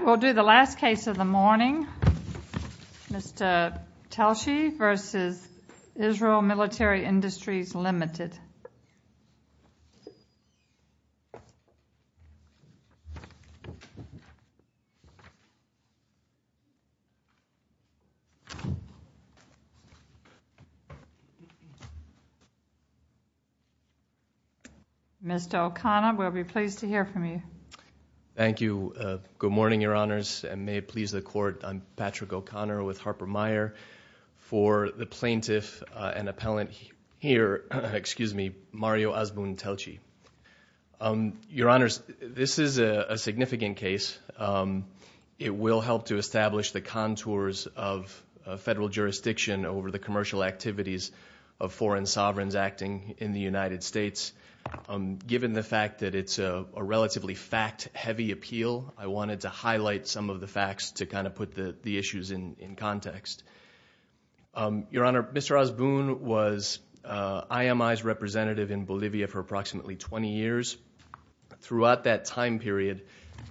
We will do the last case of the morning, Mr. Telchi v. Israel Military Industries, Ltd. Mr. O'Connor, we'll be pleased to hear from you. Thank you. Good morning, Your Honors, and may it please the Court, I'm Patrick O'Connor with Harper-Meyer. for the plaintiff and appellant here, Mario Azbun-Telchi. Your Honors, this is a significant case. It will help to establish the contours of federal jurisdiction over the commercial activities of foreign sovereigns acting in the United States. Given the fact that it's a relatively fact-heavy appeal, I wanted to highlight some of the Your Honor, Mr. Azbun was IMI's representative in Bolivia for approximately 20 years. Throughout that time period,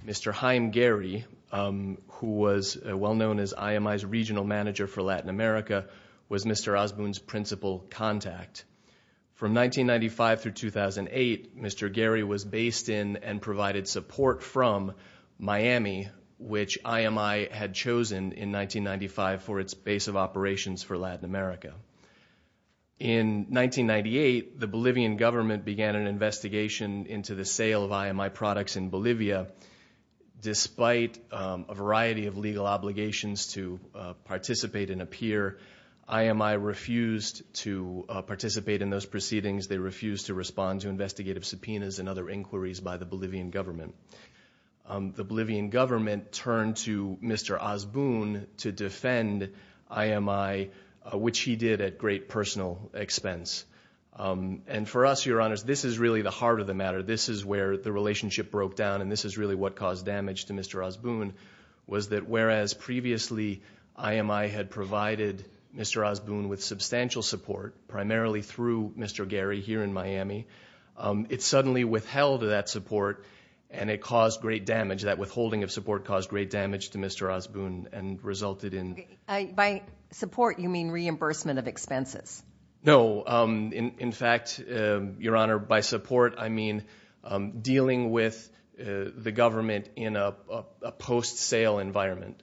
Mr. Haim Gehry, who was well known as IMI's regional manager for Latin America, was Mr. Azbun's principal contact. From 1995 through 2008, Mr. Gehry was based in and provided support from Miami, which In 1998, the Bolivian government began an investigation into the sale of IMI products in Bolivia. Despite a variety of legal obligations to participate and appear, IMI refused to participate in those proceedings. They refused to respond to investigative subpoenas and other inquiries by the Bolivian government. The Bolivian government turned to Mr. Azbun to defend IMI, which he did at great personal expense. For us, Your Honors, this is really the heart of the matter. This is where the relationship broke down, and this is really what caused damage to Mr. Azbun, was that whereas previously IMI had provided Mr. Azbun with substantial support, primarily through Mr. Gehry here in Miami, it suddenly withheld that support, and it caused great damage. That withholding of support caused great damage to Mr. Azbun and resulted in By support, you mean reimbursement of expenses. No. In fact, Your Honor, by support, I mean dealing with the government in a post-sale environment.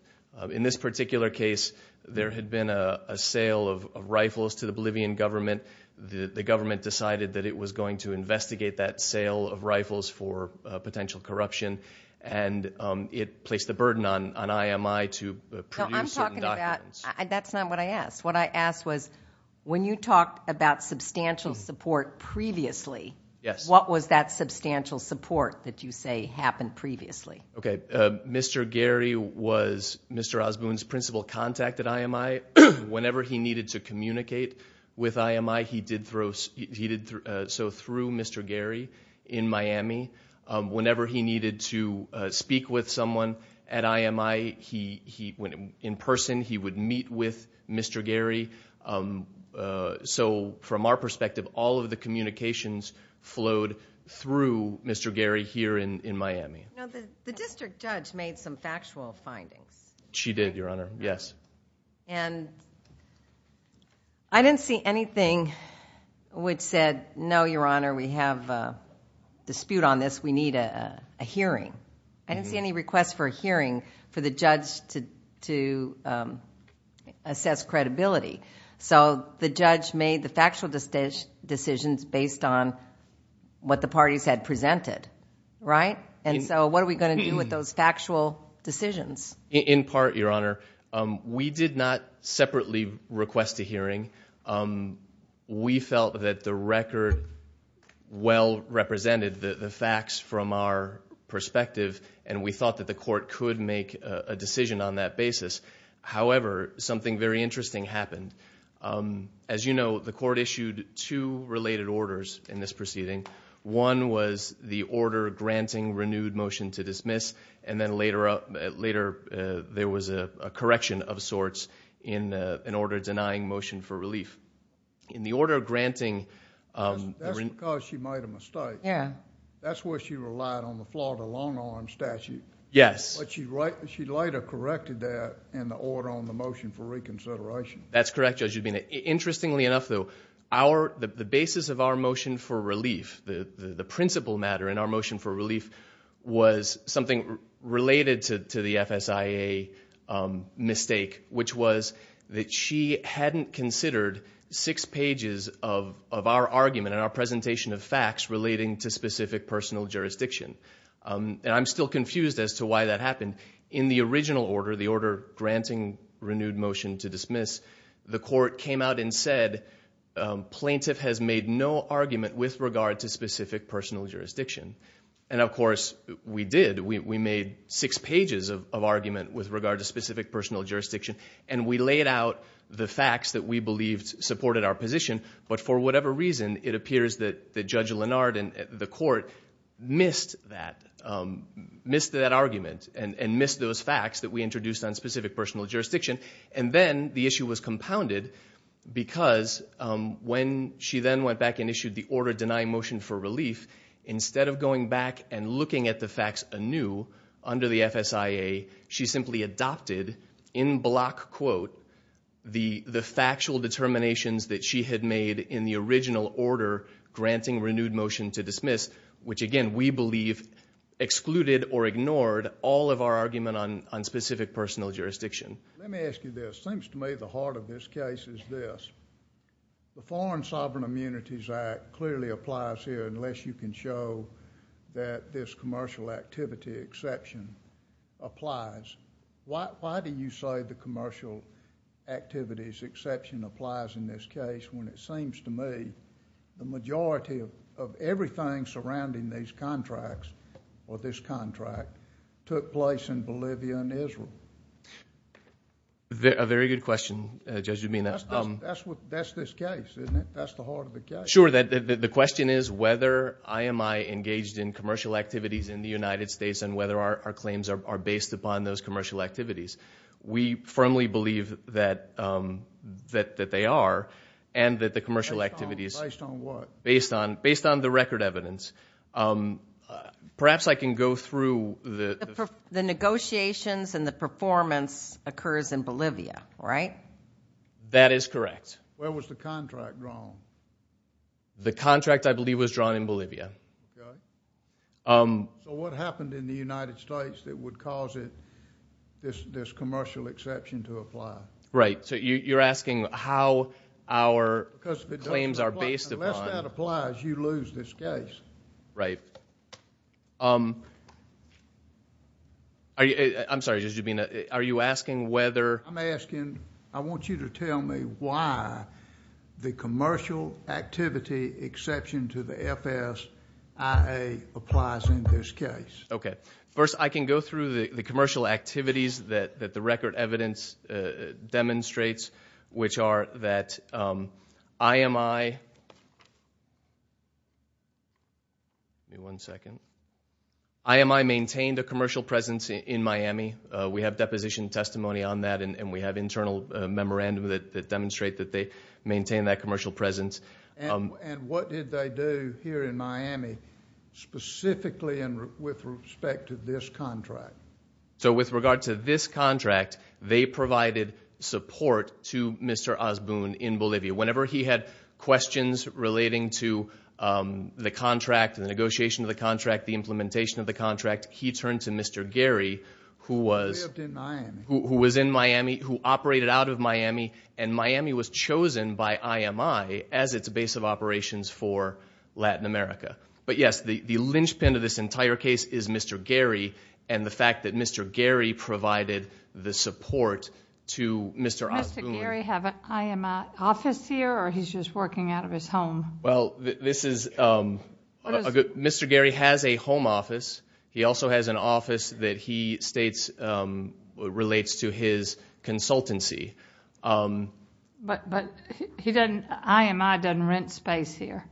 In this particular case, there had been a sale of rifles to the Bolivian government. The government decided that it was going to investigate that sale of rifles for potential corruption, and it placed the burden on IMI to produce certain documents. No, I'm talking about – that's not what I asked. What I asked was when you talked about substantial support previously, what was that substantial support that you say happened previously? Okay. Mr. Gehry was Mr. Azbun's principal contact at IMI. Whenever he needed to communicate with IMI, he did so through Mr. Gehry in Miami. Whenever he needed to speak with someone at IMI, he went in person. He would meet with Mr. Gehry. So from our perspective, all of the communications flowed through Mr. Gehry here in Miami. Now, the district judge made some factual findings. She did, Your Honor. Yes. And I didn't see anything which said, no, Your Honor, we have a dispute on this. We need a hearing. I didn't see any request for a hearing for the judge to assess credibility. So the judge made the factual decisions based on what the parties had presented, right? And so what are we going to do with those factual decisions? In part, Your Honor, we did not separately request a hearing. We felt that the record well represented the facts from our perspective, and we thought that the court could make a decision on that basis. However, something very interesting happened. As you know, the court issued two related orders in this proceeding. One was the order granting renewed motion to dismiss, and then later there was a correction of sorts in an order denying motion for relief. In the order granting... That's because she made a mistake. Yeah. That's where she relied on the Florida long-arm statute. Yes. But she later corrected that in the order on the motion for reconsideration. That's correct, Judge Rubino. Interestingly enough, though, the basis of our motion for relief, the principal matter in our motion for relief, was something related to the FSIA mistake, which was that she hadn't considered six pages of our argument and our presentation of facts relating to specific personal jurisdiction. And I'm still confused as to why that happened. In the original order, the order granting renewed motion to dismiss, the court came out and said, plaintiff has made no argument with regard to specific personal jurisdiction. And, of course, we did. We made six pages of argument with regard to specific personal jurisdiction, and we laid out the facts that we believed supported our position. But for whatever reason, it appears that Judge Lenard and the court missed that argument and missed those facts that we introduced on specific personal jurisdiction. And then the issue was compounded because when she then went back and issued the order denying motion for relief, instead of going back and looking at the facts anew under the FSIA, she simply adopted, in block quote, the factual determinations that she had made in the original order granting renewed motion to dismiss, which, again, we believe excluded or ignored all of our argument on specific personal jurisdiction. Let me ask you this. It seems to me the heart of this case is this. The Foreign Sovereign Immunities Act clearly applies here unless you can show that this commercial activity exception applies. Why do you say the commercial activities exception applies in this case when it seems to me the majority of everything surrounding these contracts took place in Bolivia and Israel? A very good question, Judge Urbina. That's this case, isn't it? That's the heart of the case. Sure. The question is whether IMI engaged in commercial activities in the United States and whether our claims are based upon those commercial activities. We firmly believe that they are and that the commercial activities— Based on what? Based on the record evidence. Perhaps I can go through the— The negotiations and the performance occurs in Bolivia, right? That is correct. Where was the contract drawn? The contract, I believe, was drawn in Bolivia. So what happened in the United States that would cause this commercial exception to apply? Right. So you're asking how our claims are based upon— Unless that applies, you lose this case. Right. I'm sorry, Judge Urbina. Are you asking whether— I'm asking, I want you to tell me why the commercial activity exception to the FSIA applies in this case. Okay. First, I can go through the commercial activities that the record evidence demonstrates, which are that IMI— Give me one second. IMI maintained a commercial presence in Miami. We have deposition testimony on that, and we have internal memorandum that demonstrate that they maintained that commercial presence. And what did they do here in Miami specifically with respect to this contract? So with regard to this contract, they provided support to Mr. Osboon in Bolivia. Whenever he had questions relating to the contract, the negotiation of the contract, the implementation of the contract, he turned to Mr. Gary, who was— Who lived in Miami. Who was in Miami, who operated out of Miami, and Miami was chosen by IMI as its base of operations for Latin America. But, yes, the linchpin of this entire case is Mr. Gary and the fact that Mr. Gary provided the support to Mr. Osboon. Does Mr. Gary have an IMI office here, or he's just working out of his home? Well, this is— Mr. Gary has a home office. He also has an office that he states relates to his consultancy. But IMI doesn't rent space here.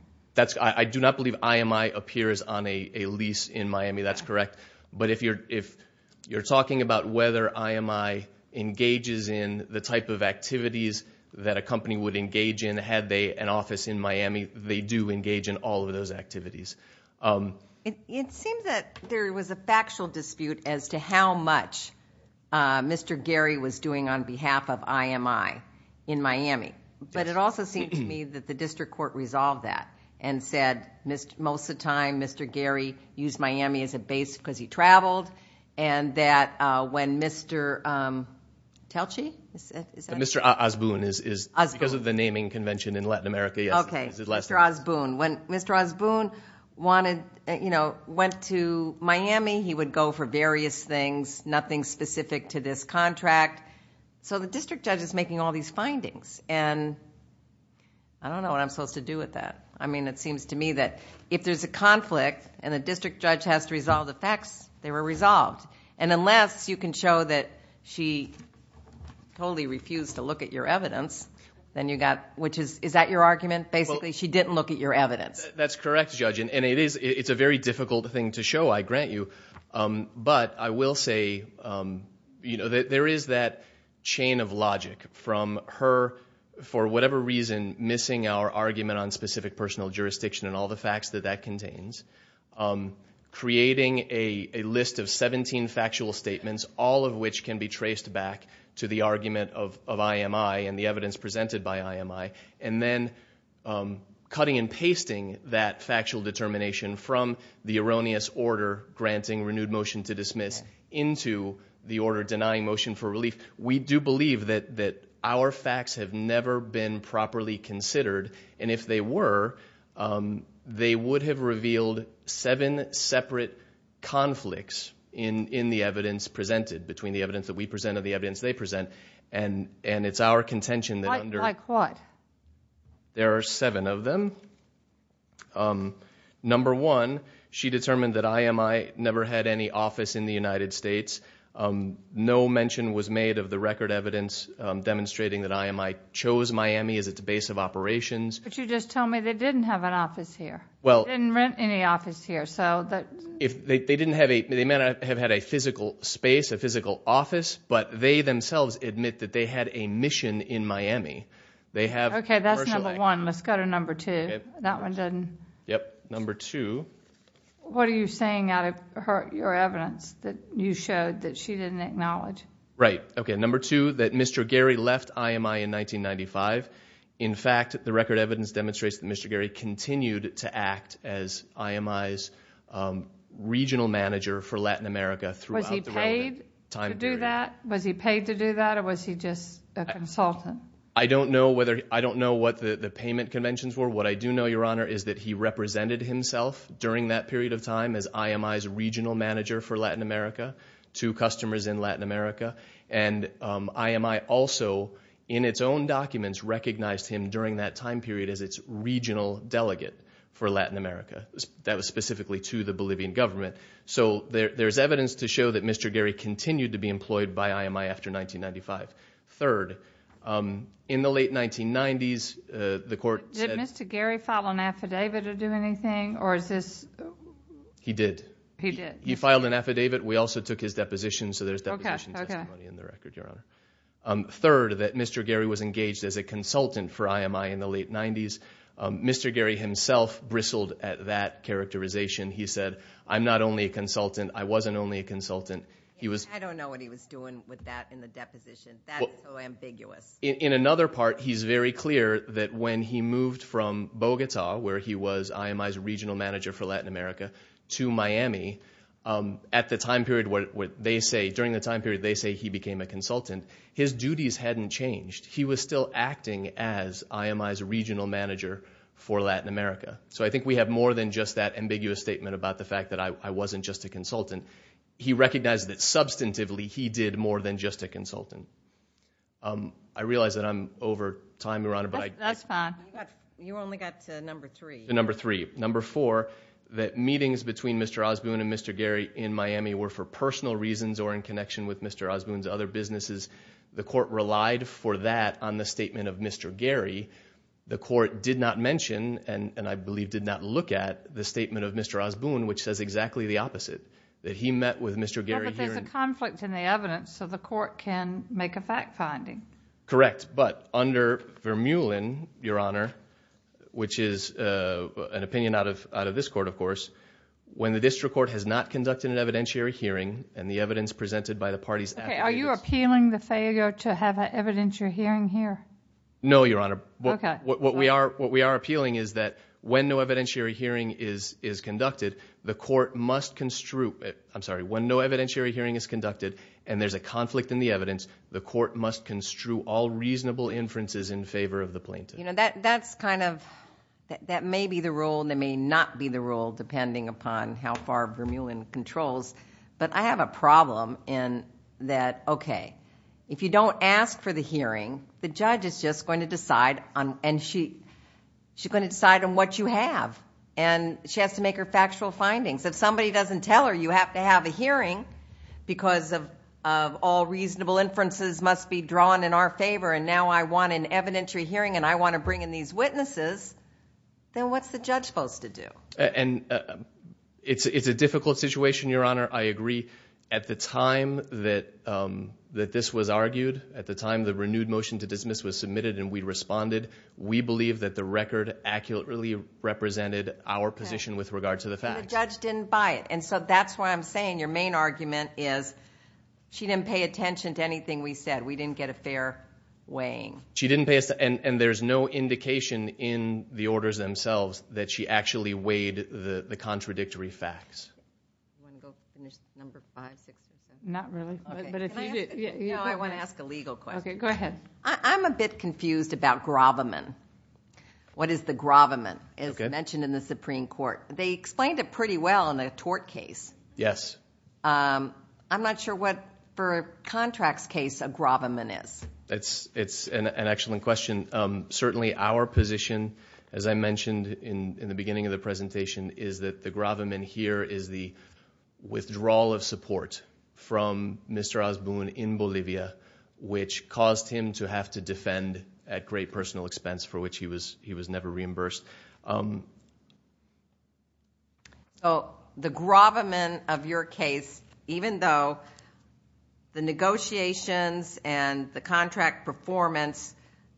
I do not believe IMI appears on a lease in Miami. That's correct. But if you're talking about whether IMI engages in the type of activities that a company would engage in, had they an office in Miami, they do engage in all of those activities. It seems that there was a factual dispute as to how much Mr. Gary was doing on behalf of IMI in Miami. But it also seems to me that the district court resolved that and said most of the time Mr. Gary used Miami as a base because he traveled, and that when Mr. Telchi? Mr. Osboon, because of the naming convention in Latin America. Okay, Mr. Osboon. When Mr. Osboon went to Miami, he would go for various things, nothing specific to this contract. So the district judge is making all these findings. I don't know what I'm supposed to do with that. It seems to me that if there's a conflict and the district judge has to resolve the facts, they were resolved. Unless you can show that she totally refused to look at your evidence, then you got... Is that your argument? Basically, she didn't look at your evidence. That's correct, Judge, and it's a very difficult thing to show, I grant you. But I will say there is that chain of logic from her, for whatever reason, missing our argument on specific personal jurisdiction and all the facts that that contains, creating a list of 17 factual statements, all of which can be traced back to the argument of IMI and the evidence presented by IMI, and then cutting and pasting that factual determination from the erroneous order granting renewed motion to dismiss into the order denying motion for relief. We do believe that our facts have never been properly considered. And if they were, they would have revealed seven separate conflicts in the evidence presented, between the evidence that we present and the evidence they present. And it's our contention that under... Like what? There are seven of them. Number one, she determined that IMI never had any office in the United States. No mention was made of the record evidence demonstrating that IMI chose Miami as its base of operations. But you just tell me they didn't have an office here, didn't rent any office here. They may not have had a physical space, a physical office, but they themselves admit that they had a mission in Miami. Okay, that's number one. Let's go to number two. That one doesn't... Yep, number two. What are you saying out of your evidence that you showed that she didn't acknowledge? Right. Okay, number two, that Mr. Gary left IMI in 1995. In fact, the record evidence demonstrates that Mr. Gary continued to act as IMI's regional manager for Latin America throughout the... Was he paid to do that? Was he paid to do that, or was he just a consultant? I don't know whether... I don't know what the payment conventions were. What I do know, Your Honor, is that he represented himself during that period of time as IMI's regional manager for Latin America to customers in Latin America. And, IMI also, in its own documents, recognized him during that time period as its regional delegate for Latin America. That was specifically to the Bolivian government. So, there's evidence to show that Mr. Gary continued to be employed by IMI after 1995. Third, in the late 1990s, the court said... Did Mr. Gary file an affidavit or do anything, or is this... He did. He did. He filed an affidavit. We also took his deposition, so there's deposition... Okay, okay.... testimony in the record, Your Honor. Third, that Mr. Gary was engaged as a consultant for IMI in the late 1990s. Mr. Gary himself bristled at that characterization. He said, I'm not only a consultant. I wasn't only a consultant. I don't know what he was doing with that in the deposition. That's so ambiguous. In another part, he's very clear that when he moved from Bogota, where he was IMI's regional manager for Latin America, to Miami, at the time period where they say... during the time period they say he became a consultant, his duties hadn't changed. He was still acting as IMI's regional manager for Latin America. So I think we have more than just that ambiguous statement about the fact that I wasn't just a consultant. He recognized that substantively, he did more than just a consultant. I realize that I'm over time, Your Honor, but I... That's fine. You only got to number three. Number three. Number four, that meetings between Mr. Osboon and Mr. Gary in Miami were for personal reasons or in connection with Mr. Osboon's other businesses. The court relied for that on the statement of Mr. Gary. The court did not mention, and I believe did not look at, the statement of Mr. Osboon, which says exactly the opposite. That he met with Mr. Gary here... But there's a conflict in the evidence, so the court can make a fact finding. Correct. But under Vermeulen, Your Honor, which is an opinion out of this court, of course, when the district court has not conducted an evidentiary hearing and the evidence presented by the parties... Okay, are you appealing the failure to have an evidentiary hearing here? No, Your Honor. Okay. What we are appealing is that when no evidentiary hearing is conducted, the court must construe... I'm sorry, when no evidentiary hearing is conducted and there's a conflict in the evidence, the court must construe all reasonable inferences in favor of the plaintiff. You know, that's kind of... That may be the rule and that may not be the rule, depending upon how far Vermeulen controls. But, I have a problem in that... Okay, if you don't ask for the hearing, the judge is just going to decide on... And, she's going to decide on what you have. And, she has to make her factual findings. If somebody doesn't tell her you have to have a hearing because of all reasonable inferences must be drawn in our favor... And, now I want an evidentiary hearing and I want to bring in these witnesses, then what's the judge supposed to do? And, it's a difficult situation, Your Honor. I agree. At the time that this was argued, at the time the renewed motion to dismiss was submitted and we responded... We believe that the record accurately represented our position with regard to the facts. And, the judge didn't buy it. And so, that's why I'm saying your main argument is, she didn't pay attention to anything we said. We didn't get a fair weighing. She didn't pay us... And, there's no indication in the orders themselves, that she actually weighed the contradictory facts. Do you want to go finish number 5, 6, 7? Not really. Okay. Can I ask... No, I want to ask a legal question. Okay, go ahead. I'm a bit confused about Graviman. What is the Graviman? Okay. It's mentioned in the Supreme Court. They explained it pretty well in a tort case. Yes. I'm not sure what, for a contracts case, a Graviman is. It's an excellent question. Certainly, our position, as I mentioned in the beginning of the presentation, is that the Graviman here is the withdrawal of support from Mr. Osborne in Bolivia, which caused him to have to defend at great personal expense, for which he was never reimbursed. The Graviman of your case, even though the negotiations and the contract performance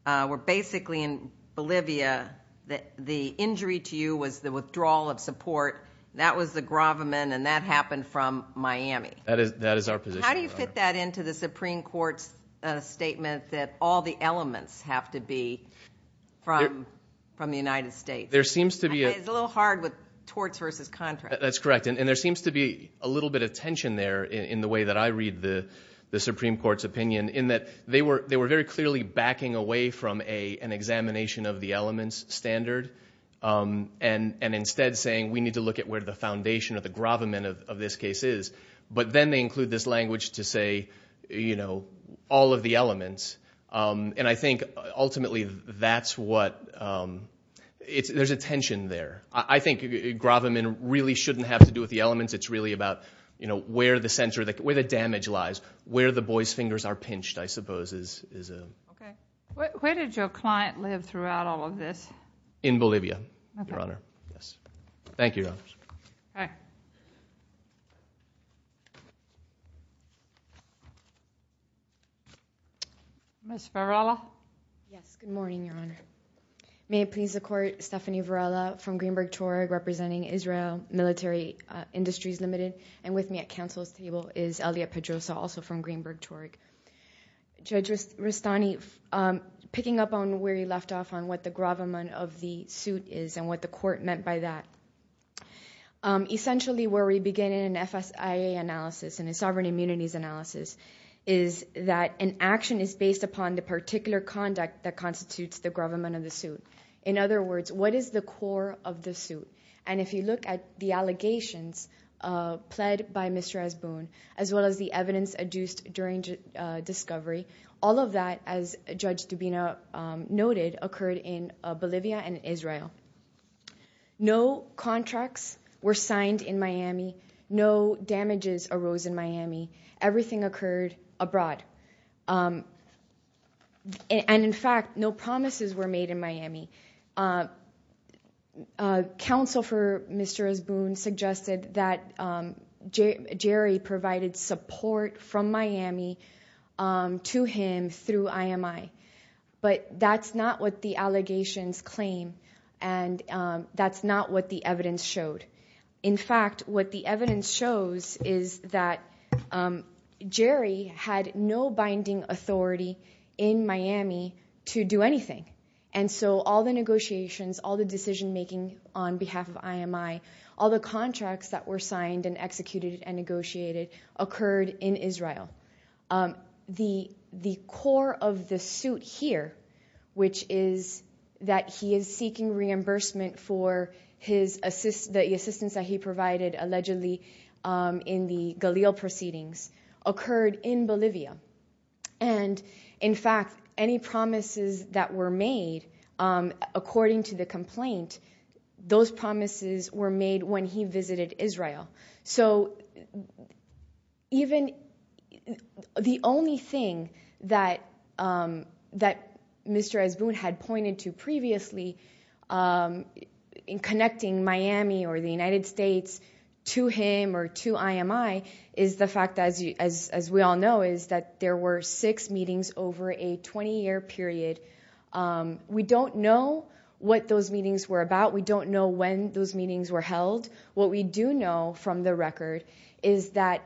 were basically in Bolivia, the injury to you was the withdrawal of support. That was the Graviman, and that happened from Miami. That is our position. How do you fit that into the Supreme Court's statement that all the elements have to be from the United States? It's a little hard with torts versus contracts. That's correct, and there seems to be a little bit of tension there in the way that I read the Supreme Court's opinion, in that they were very clearly backing away from an examination of the elements standard and instead saying we need to look at where the foundation of the Graviman of this case is. But then they include this language to say all of the elements, and I think ultimately that's what – there's a tension there. I think Graviman really shouldn't have to do with the elements. It's really about where the center – where the damage lies, where the boy's fingers are pinched, I suppose, is a – Okay. Where did your client live throughout all of this? In Bolivia, Your Honor. Okay. Yes. Thank you, Your Honor. Okay. Ms. Varela? Yes. Good morning, Your Honor. May it please the Court, Stephanie Varela from Greenberg Torg, representing Israel Military Industries Limited, and with me at Council's table is Elliot Pedrosa, also from Greenberg Torg. Judge Rustani, picking up on where you left off on what the Graviman of the suit is and what the Court meant by that, essentially where we begin in an FSIA analysis and a sovereign immunities analysis is that an action is based upon the particular conduct that constitutes the Graviman of the suit. In other words, what is the core of the suit? And if you look at the allegations pled by Mr. Esboon, as well as the evidence adduced during discovery, all of that, as Judge Dubina noted, occurred in Bolivia and Israel. No contracts were signed in Miami. No damages arose in Miami. Everything occurred abroad. Counsel for Mr. Esboon suggested that Jerry provided support from Miami to him through IMI. But that's not what the allegations claim, and that's not what the evidence showed. In fact, what the evidence shows is that Jerry had no binding authority in Miami to do anything. And so all the negotiations, all the decision-making on behalf of IMI, all the contracts that were signed and executed and negotiated occurred in Israel. The core of the suit here, which is that he is seeking reimbursement for the assistance that he provided, allegedly in the Galil proceedings, occurred in Bolivia. And, in fact, any promises that were made according to the complaint, those promises were made when he visited Israel. So even the only thing that Mr. Esboon had pointed to previously in connecting Miami or the United States to him or to IMI is the fact that, as we all know, is that there were six meetings over a 20-year period. We don't know what those meetings were about. We don't know when those meetings were held. What we do know from the record is that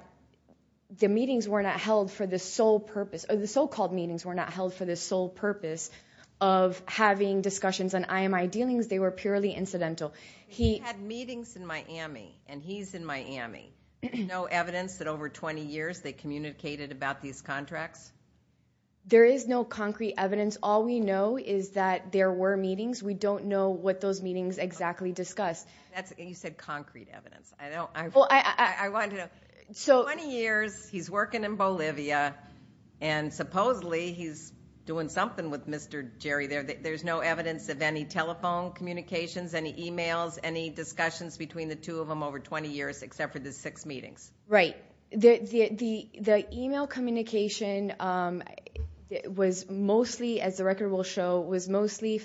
the meetings were not held for the sole purpose or the so-called meetings were not held for the sole purpose of having discussions on IMI dealings. They were purely incidental. He had meetings in Miami, and he's in Miami. There's no evidence that over 20 years they communicated about these contracts? There is no concrete evidence. All we know is that there were meetings. We don't know what those meetings exactly discussed. You said concrete evidence. I wanted to know. Twenty years, he's working in Bolivia, and supposedly he's doing something with Mr. Jerry there. There's no evidence of any telephone communications, any e-mails, any discussions between the two of them over 20 years except for the six meetings? Right. The e-mail communication was mostly, as the record will show, was mostly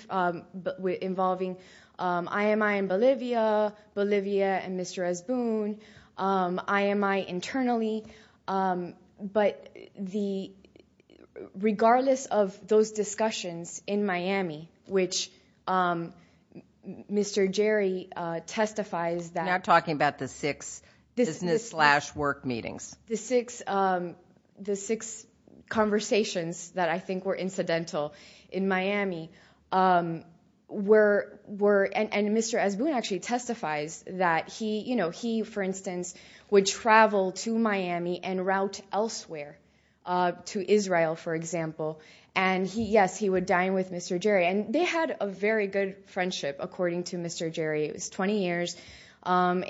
involving IMI in Bolivia, Bolivia and Mr. Esboon, IMI internally, but regardless of those discussions in Miami, which Mr. Jerry testifies that. You're not talking about the six business-slash-work meetings. The six conversations that I think were incidental in Miami were, and Mr. Esboon actually testifies that he, for instance, would travel to Miami and route elsewhere, to Israel, for example, and, yes, he would dine with Mr. Jerry, and they had a very good friendship, according to Mr. Jerry. It was 20 years. I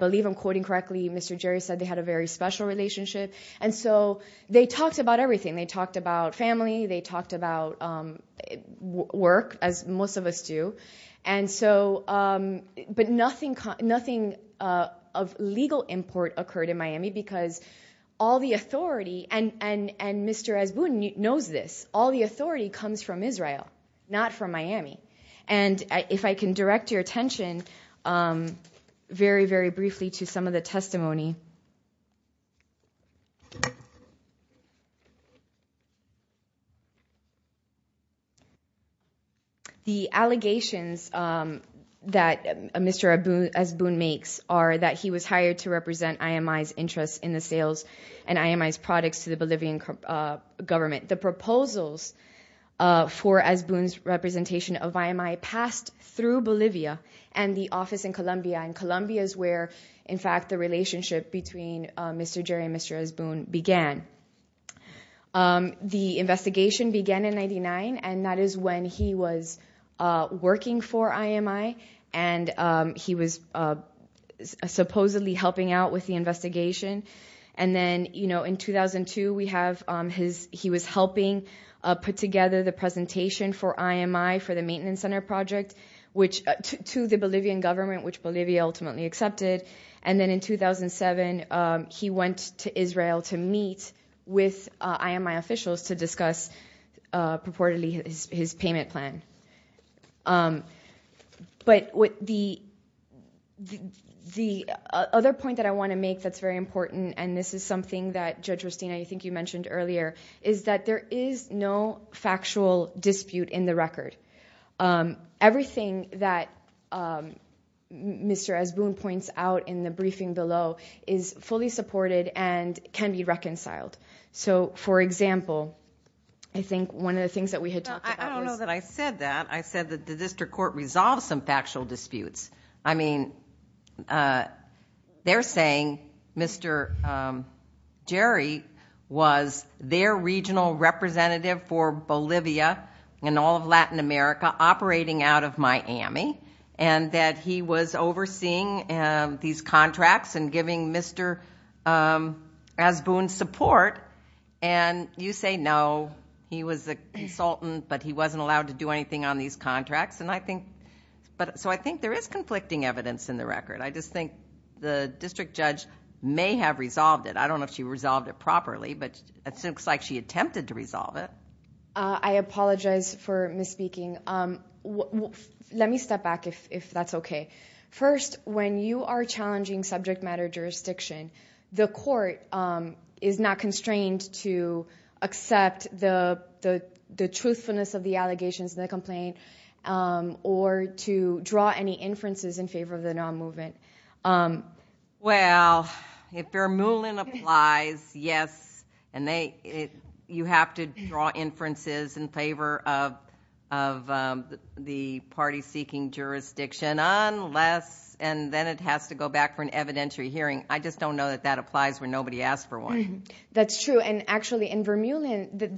believe I'm quoting correctly. Mr. Jerry said they had a very special relationship, and so they talked about everything. They talked about family. They talked about work, as most of us do, but nothing of legal import occurred in Miami because all the authority, and Mr. Esboon knows this, all the authority comes from Israel, not from Miami, and if I can direct your attention very, very briefly to some of the testimony. The allegations that Mr. Esboon makes are that he was hired to represent IMI's interest in the sales and IMI's products to the Bolivian government. The proposals for Esboon's representation of IMI passed through Bolivia and the office in Colombia, and Colombia is where, in fact, the relationship between Mr. Jerry and Mr. Esboon began. The investigation began in 99, and that is when he was working for IMI, and he was supposedly helping out with the investigation, and then in 2002, he was helping put together the presentation for IMI for the maintenance center project to the Bolivian government, which Bolivia ultimately accepted, and then in 2007, he went to Israel to meet with IMI officials to discuss purportedly his payment plan, but the other point that I want to make that's very important, and this is something that, Judge Christina, I think you mentioned earlier, is that there is no factual dispute in the record. Everything that Mr. Esboon points out in the briefing below is fully supported and can be reconciled, so, for example, I think one of the things that we had talked about was... I said that the district court resolved some factual disputes. I mean, they're saying Mr. Jerry was their regional representative for Bolivia and all of Latin America operating out of Miami, and that he was overseeing these contracts and giving Mr. Esboon support, and you say, no, he was a consultant, but he wasn't allowed to do anything on these contracts, so I think there is conflicting evidence in the record. I just think the district judge may have resolved it. I don't know if she resolved it properly, but it looks like she attempted to resolve it. I apologize for misspeaking. Let me step back, if that's okay. First, when you are challenging subject matter jurisdiction, the court is not constrained to accept the truthfulness of the allegations in the complaint or to draw any inferences in favor of the non-movement. Well, if Fair Moulin applies, yes, and you have to draw inferences in favor of the party seeking jurisdiction unless, and then it has to go back for an evidentiary hearing. I just don't know that that applies when nobody asked for one. That's true, and actually in Vermillion,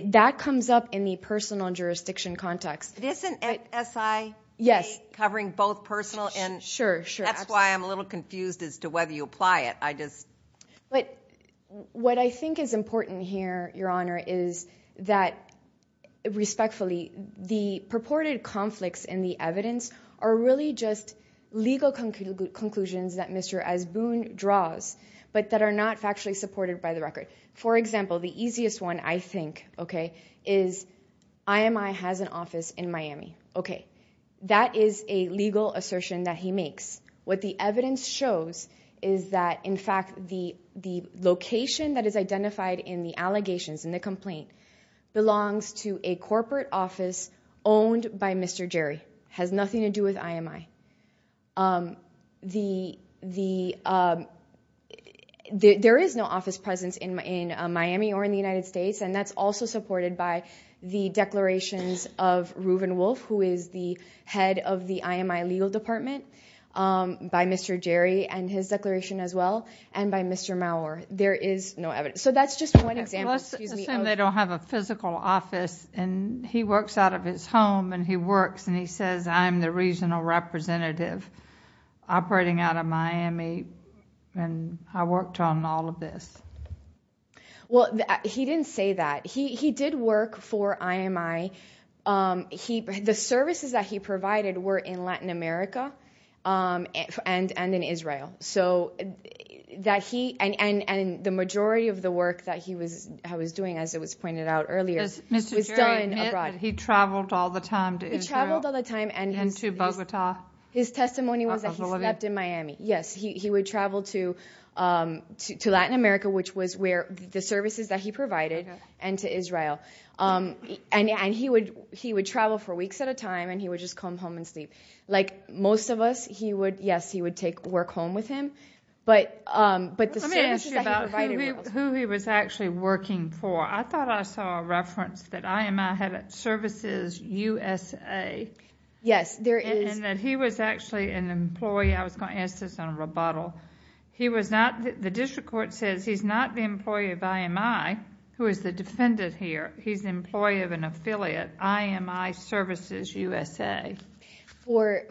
that comes up in the personal jurisdiction context. Isn't SIA covering both personal and... Sure, sure. That's why I'm a little confused as to whether you apply it. What I think is important here, Your Honor, is that, respectfully, the purported conflicts in the evidence are really just legal conclusions that Mr. Asboon draws, but that are not factually supported by the record. For example, the easiest one, I think, is IMI has an office in Miami. Okay, that is a legal assertion that he makes. What the evidence shows is that, in fact, the location that is identified in the allegations, in the complaint, belongs to a corporate office owned by Mr. Jerry. It has nothing to do with IMI. There is no office presence in Miami or in the United States, and that's also supported by the declarations of Reuven Wolf, who is the head of the IMI legal department, by Mr. Jerry and his declaration as well, and by Mr. Maurer. There is no evidence. That's just one example. Let's assume they don't have a physical office, and he works out of his home, and he works, and he says, I'm the regional representative operating out of Miami, and I worked on all of this. He didn't say that. He did work for IMI. The services that he provided were in Latin America and in Israel, and the majority of the work that he was doing, as it was pointed out earlier, was done abroad. Does Mr. Jerry admit that he traveled all the time to Israel and to Bogota? His testimony was that he slept in Miami. Yes, he would travel to Latin America, which was where the services that he provided, and to Israel. He would travel for weeks at a time, and he would just come home and sleep. Like most of us, yes, he would take work home with him, but the services that he provided were also... Let me ask you about who he was actually working for. I thought I saw a reference that IMI had services USA. Yes, there is. And that he was actually an employee. I was going to ask this on a rebuttal. The district court says he's not the employee of IMI, who is the defendant here. He's the employee of an affiliate, IMI Services USA. For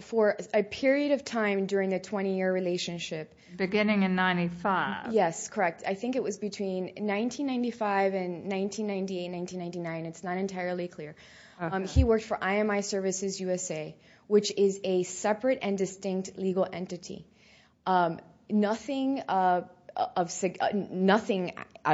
a period of time during a 20-year relationship. Beginning in 1995. Yes, correct. I think it was between 1995 and 1998, 1999. It's not entirely clear. He worked for IMI Services USA, which is a separate and distinct legal entity. Nothing at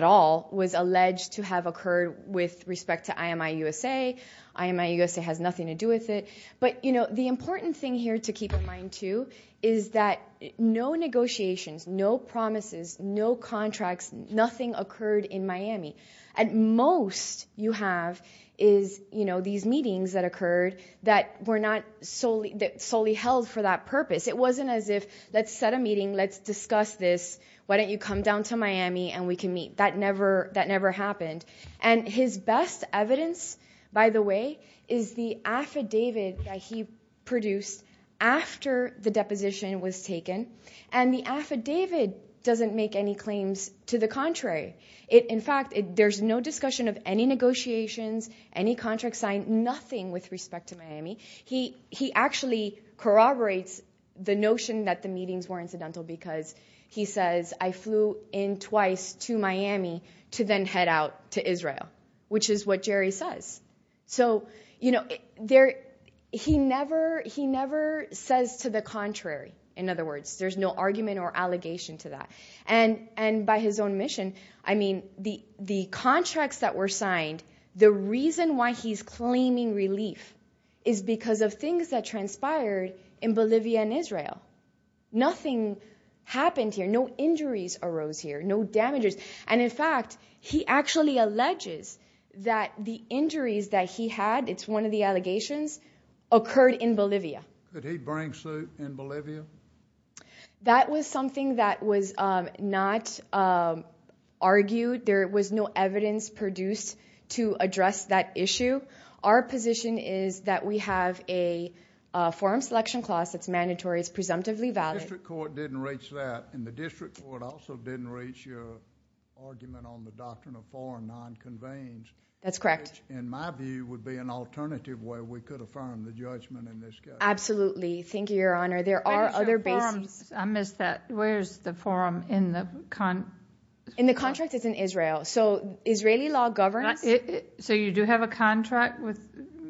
all was alleged to have occurred with respect to IMI USA. IMI USA has nothing to do with it. But, you know, the important thing here to keep in mind, too, is that no negotiations, no promises, no contracts. Nothing occurred in Miami. At most, you have these meetings that occurred that were not solely held for that purpose. It wasn't as if, let's set a meeting, let's discuss this, why don't you come down to Miami and we can meet. That never happened. And his best evidence, by the way, is the affidavit that he produced after the deposition was taken. And the affidavit doesn't make any claims to the contrary. In fact, there's no discussion of any negotiations, any contracts signed, nothing with respect to Miami. He actually corroborates the notion that the meetings were incidental because he says, I flew in twice to Miami to then head out to Israel, which is what Jerry says. So, you know, he never says to the contrary. In other words, there's no argument or allegation to that. And by his own admission, I mean the contracts that were signed, the reason why he's claiming relief is because of things that transpired in Bolivia and Israel. Nothing happened here. No injuries arose here. No damages. And in fact, he actually alleges that the injuries that he had, it's one of the allegations, occurred in Bolivia. Did he bring suit in Bolivia? That was something that was not argued. There was no evidence produced to address that issue. Our position is that we have a forum selection clause that's mandatory. It's presumptively valid. The district court didn't reach that. And the district court also didn't reach your argument on the doctrine of forum non-conveying. That's correct. Which, in my view, would be an alternative way we could affirm the judgment in this case. Absolutely. Thank you, Your Honor. There are other bases. I missed that. Where is the forum in the contract? In the contract, it's in Israel. So Israeli law governs. So you do have a contract with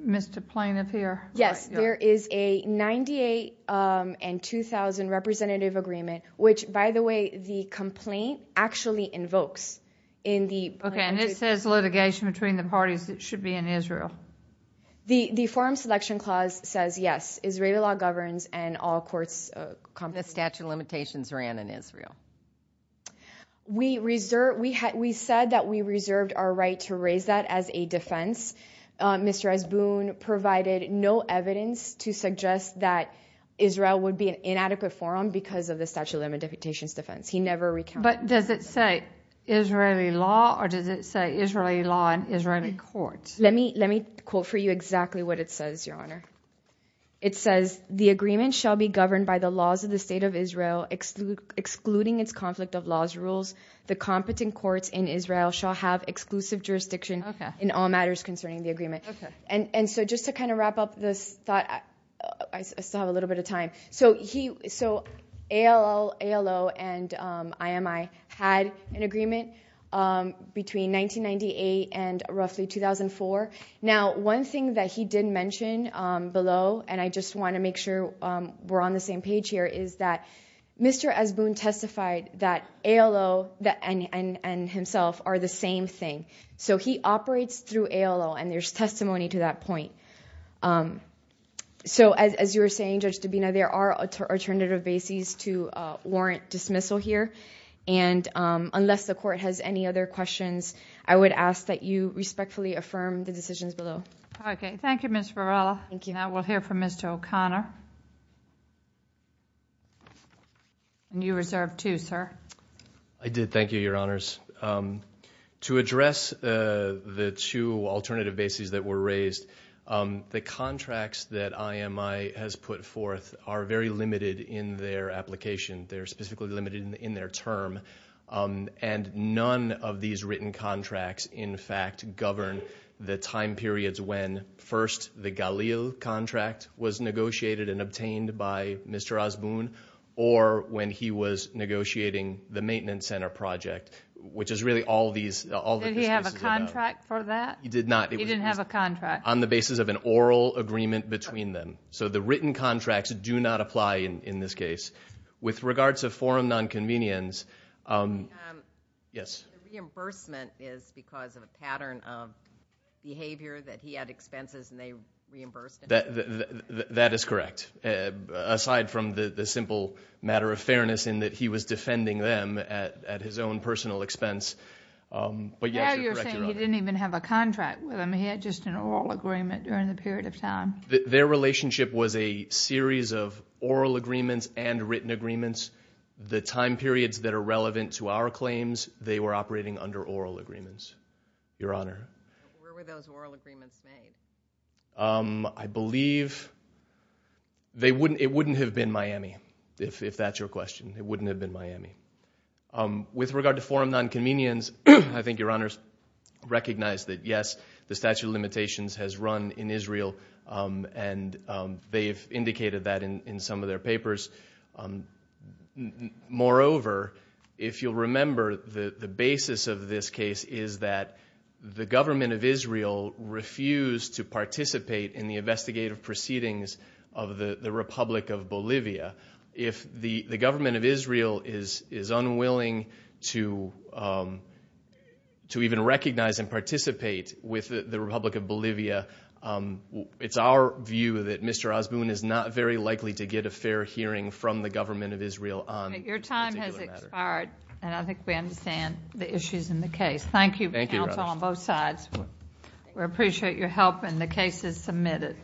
Mr. Plaintiff here? Yes. There is a 98 and 2,000 representative agreement, which, by the way, the complaint actually invokes. Okay, and it says litigation between the parties that should be in Israel. The forum selection clause says, yes, Israeli law governs and all courts comply. The statute of limitations ran in Israel. We said that we reserved our right to raise that as a defense. Mr. Esboon provided no evidence to suggest that Israel would be an inadequate forum because of the statute of limitations defense. He never recounted that. But does it say Israeli law or does it say Israeli law in Israeli courts? Let me quote for you exactly what it says, Your Honor. It says, the agreement shall be governed by the laws of the State of Israel, excluding its conflict of laws rules. The competent courts in Israel shall have exclusive jurisdiction in all matters concerning the agreement. And so just to kind of wrap up this thought, I still have a little bit of time. So ALO and IMI had an agreement between 1998 and roughly 2004. Now, one thing that he did mention below, and I just want to make sure we're on the same page here, is that Mr. Esboon testified that ALO and himself are the same thing. So he operates through ALO, and there's testimony to that point. So as you were saying, Judge Dabena, there are alternative bases to warrant dismissal here. And unless the court has any other questions, I would ask that you respectfully affirm the decisions below. Okay. Thank you, Ms. Varela. Thank you. Now we'll hear from Mr. O'Connor. And you reserved two, sir. I did. Thank you, Your Honors. To address the two alternative bases that were raised, the contracts that IMI has put forth are very limited in their application. They're specifically limited in their term. And none of these written contracts, in fact, govern the time periods when first the Galil contract was negotiated and obtained by Mr. Esboon or when he was negotiating the maintenance center project, which is really all of these. Did he have a contract for that? He did not. He didn't have a contract. On the basis of an oral agreement between them. So the written contracts do not apply in this case. With regards to forum nonconvenience, yes? The reimbursement is because of a pattern of behavior that he had expenses and they reimbursed him. That is correct. Aside from the simple matter of fairness in that he was defending them at his own personal expense. But, yes, you're correct, Your Honor. Now you're saying he didn't even have a contract with them. He had just an oral agreement during the period of time. Their relationship was a series of oral agreements and written agreements. The time periods that are relevant to our claims, they were operating under oral agreements, Your Honor. Where were those oral agreements made? I believe it wouldn't have been Miami, if that's your question. It wouldn't have been Miami. With regard to forum nonconvenience, I think Your Honors recognize that, yes, the statute of limitations has run in Israel and they've indicated that in some of their papers. Moreover, if you'll remember, the basis of this case is that the government of Israel refused to participate in the investigative proceedings of the Republic of Bolivia. If the government of Israel is unwilling to even recognize and participate with the Republic of Bolivia, it's our view that Mr. Osborne is not very likely to get a fair hearing from the government of Israel on this particular matter. Your time has expired, and I think we understand the issues in the case. Thank you for your counsel on both sides. We appreciate your help, and the case is submitted.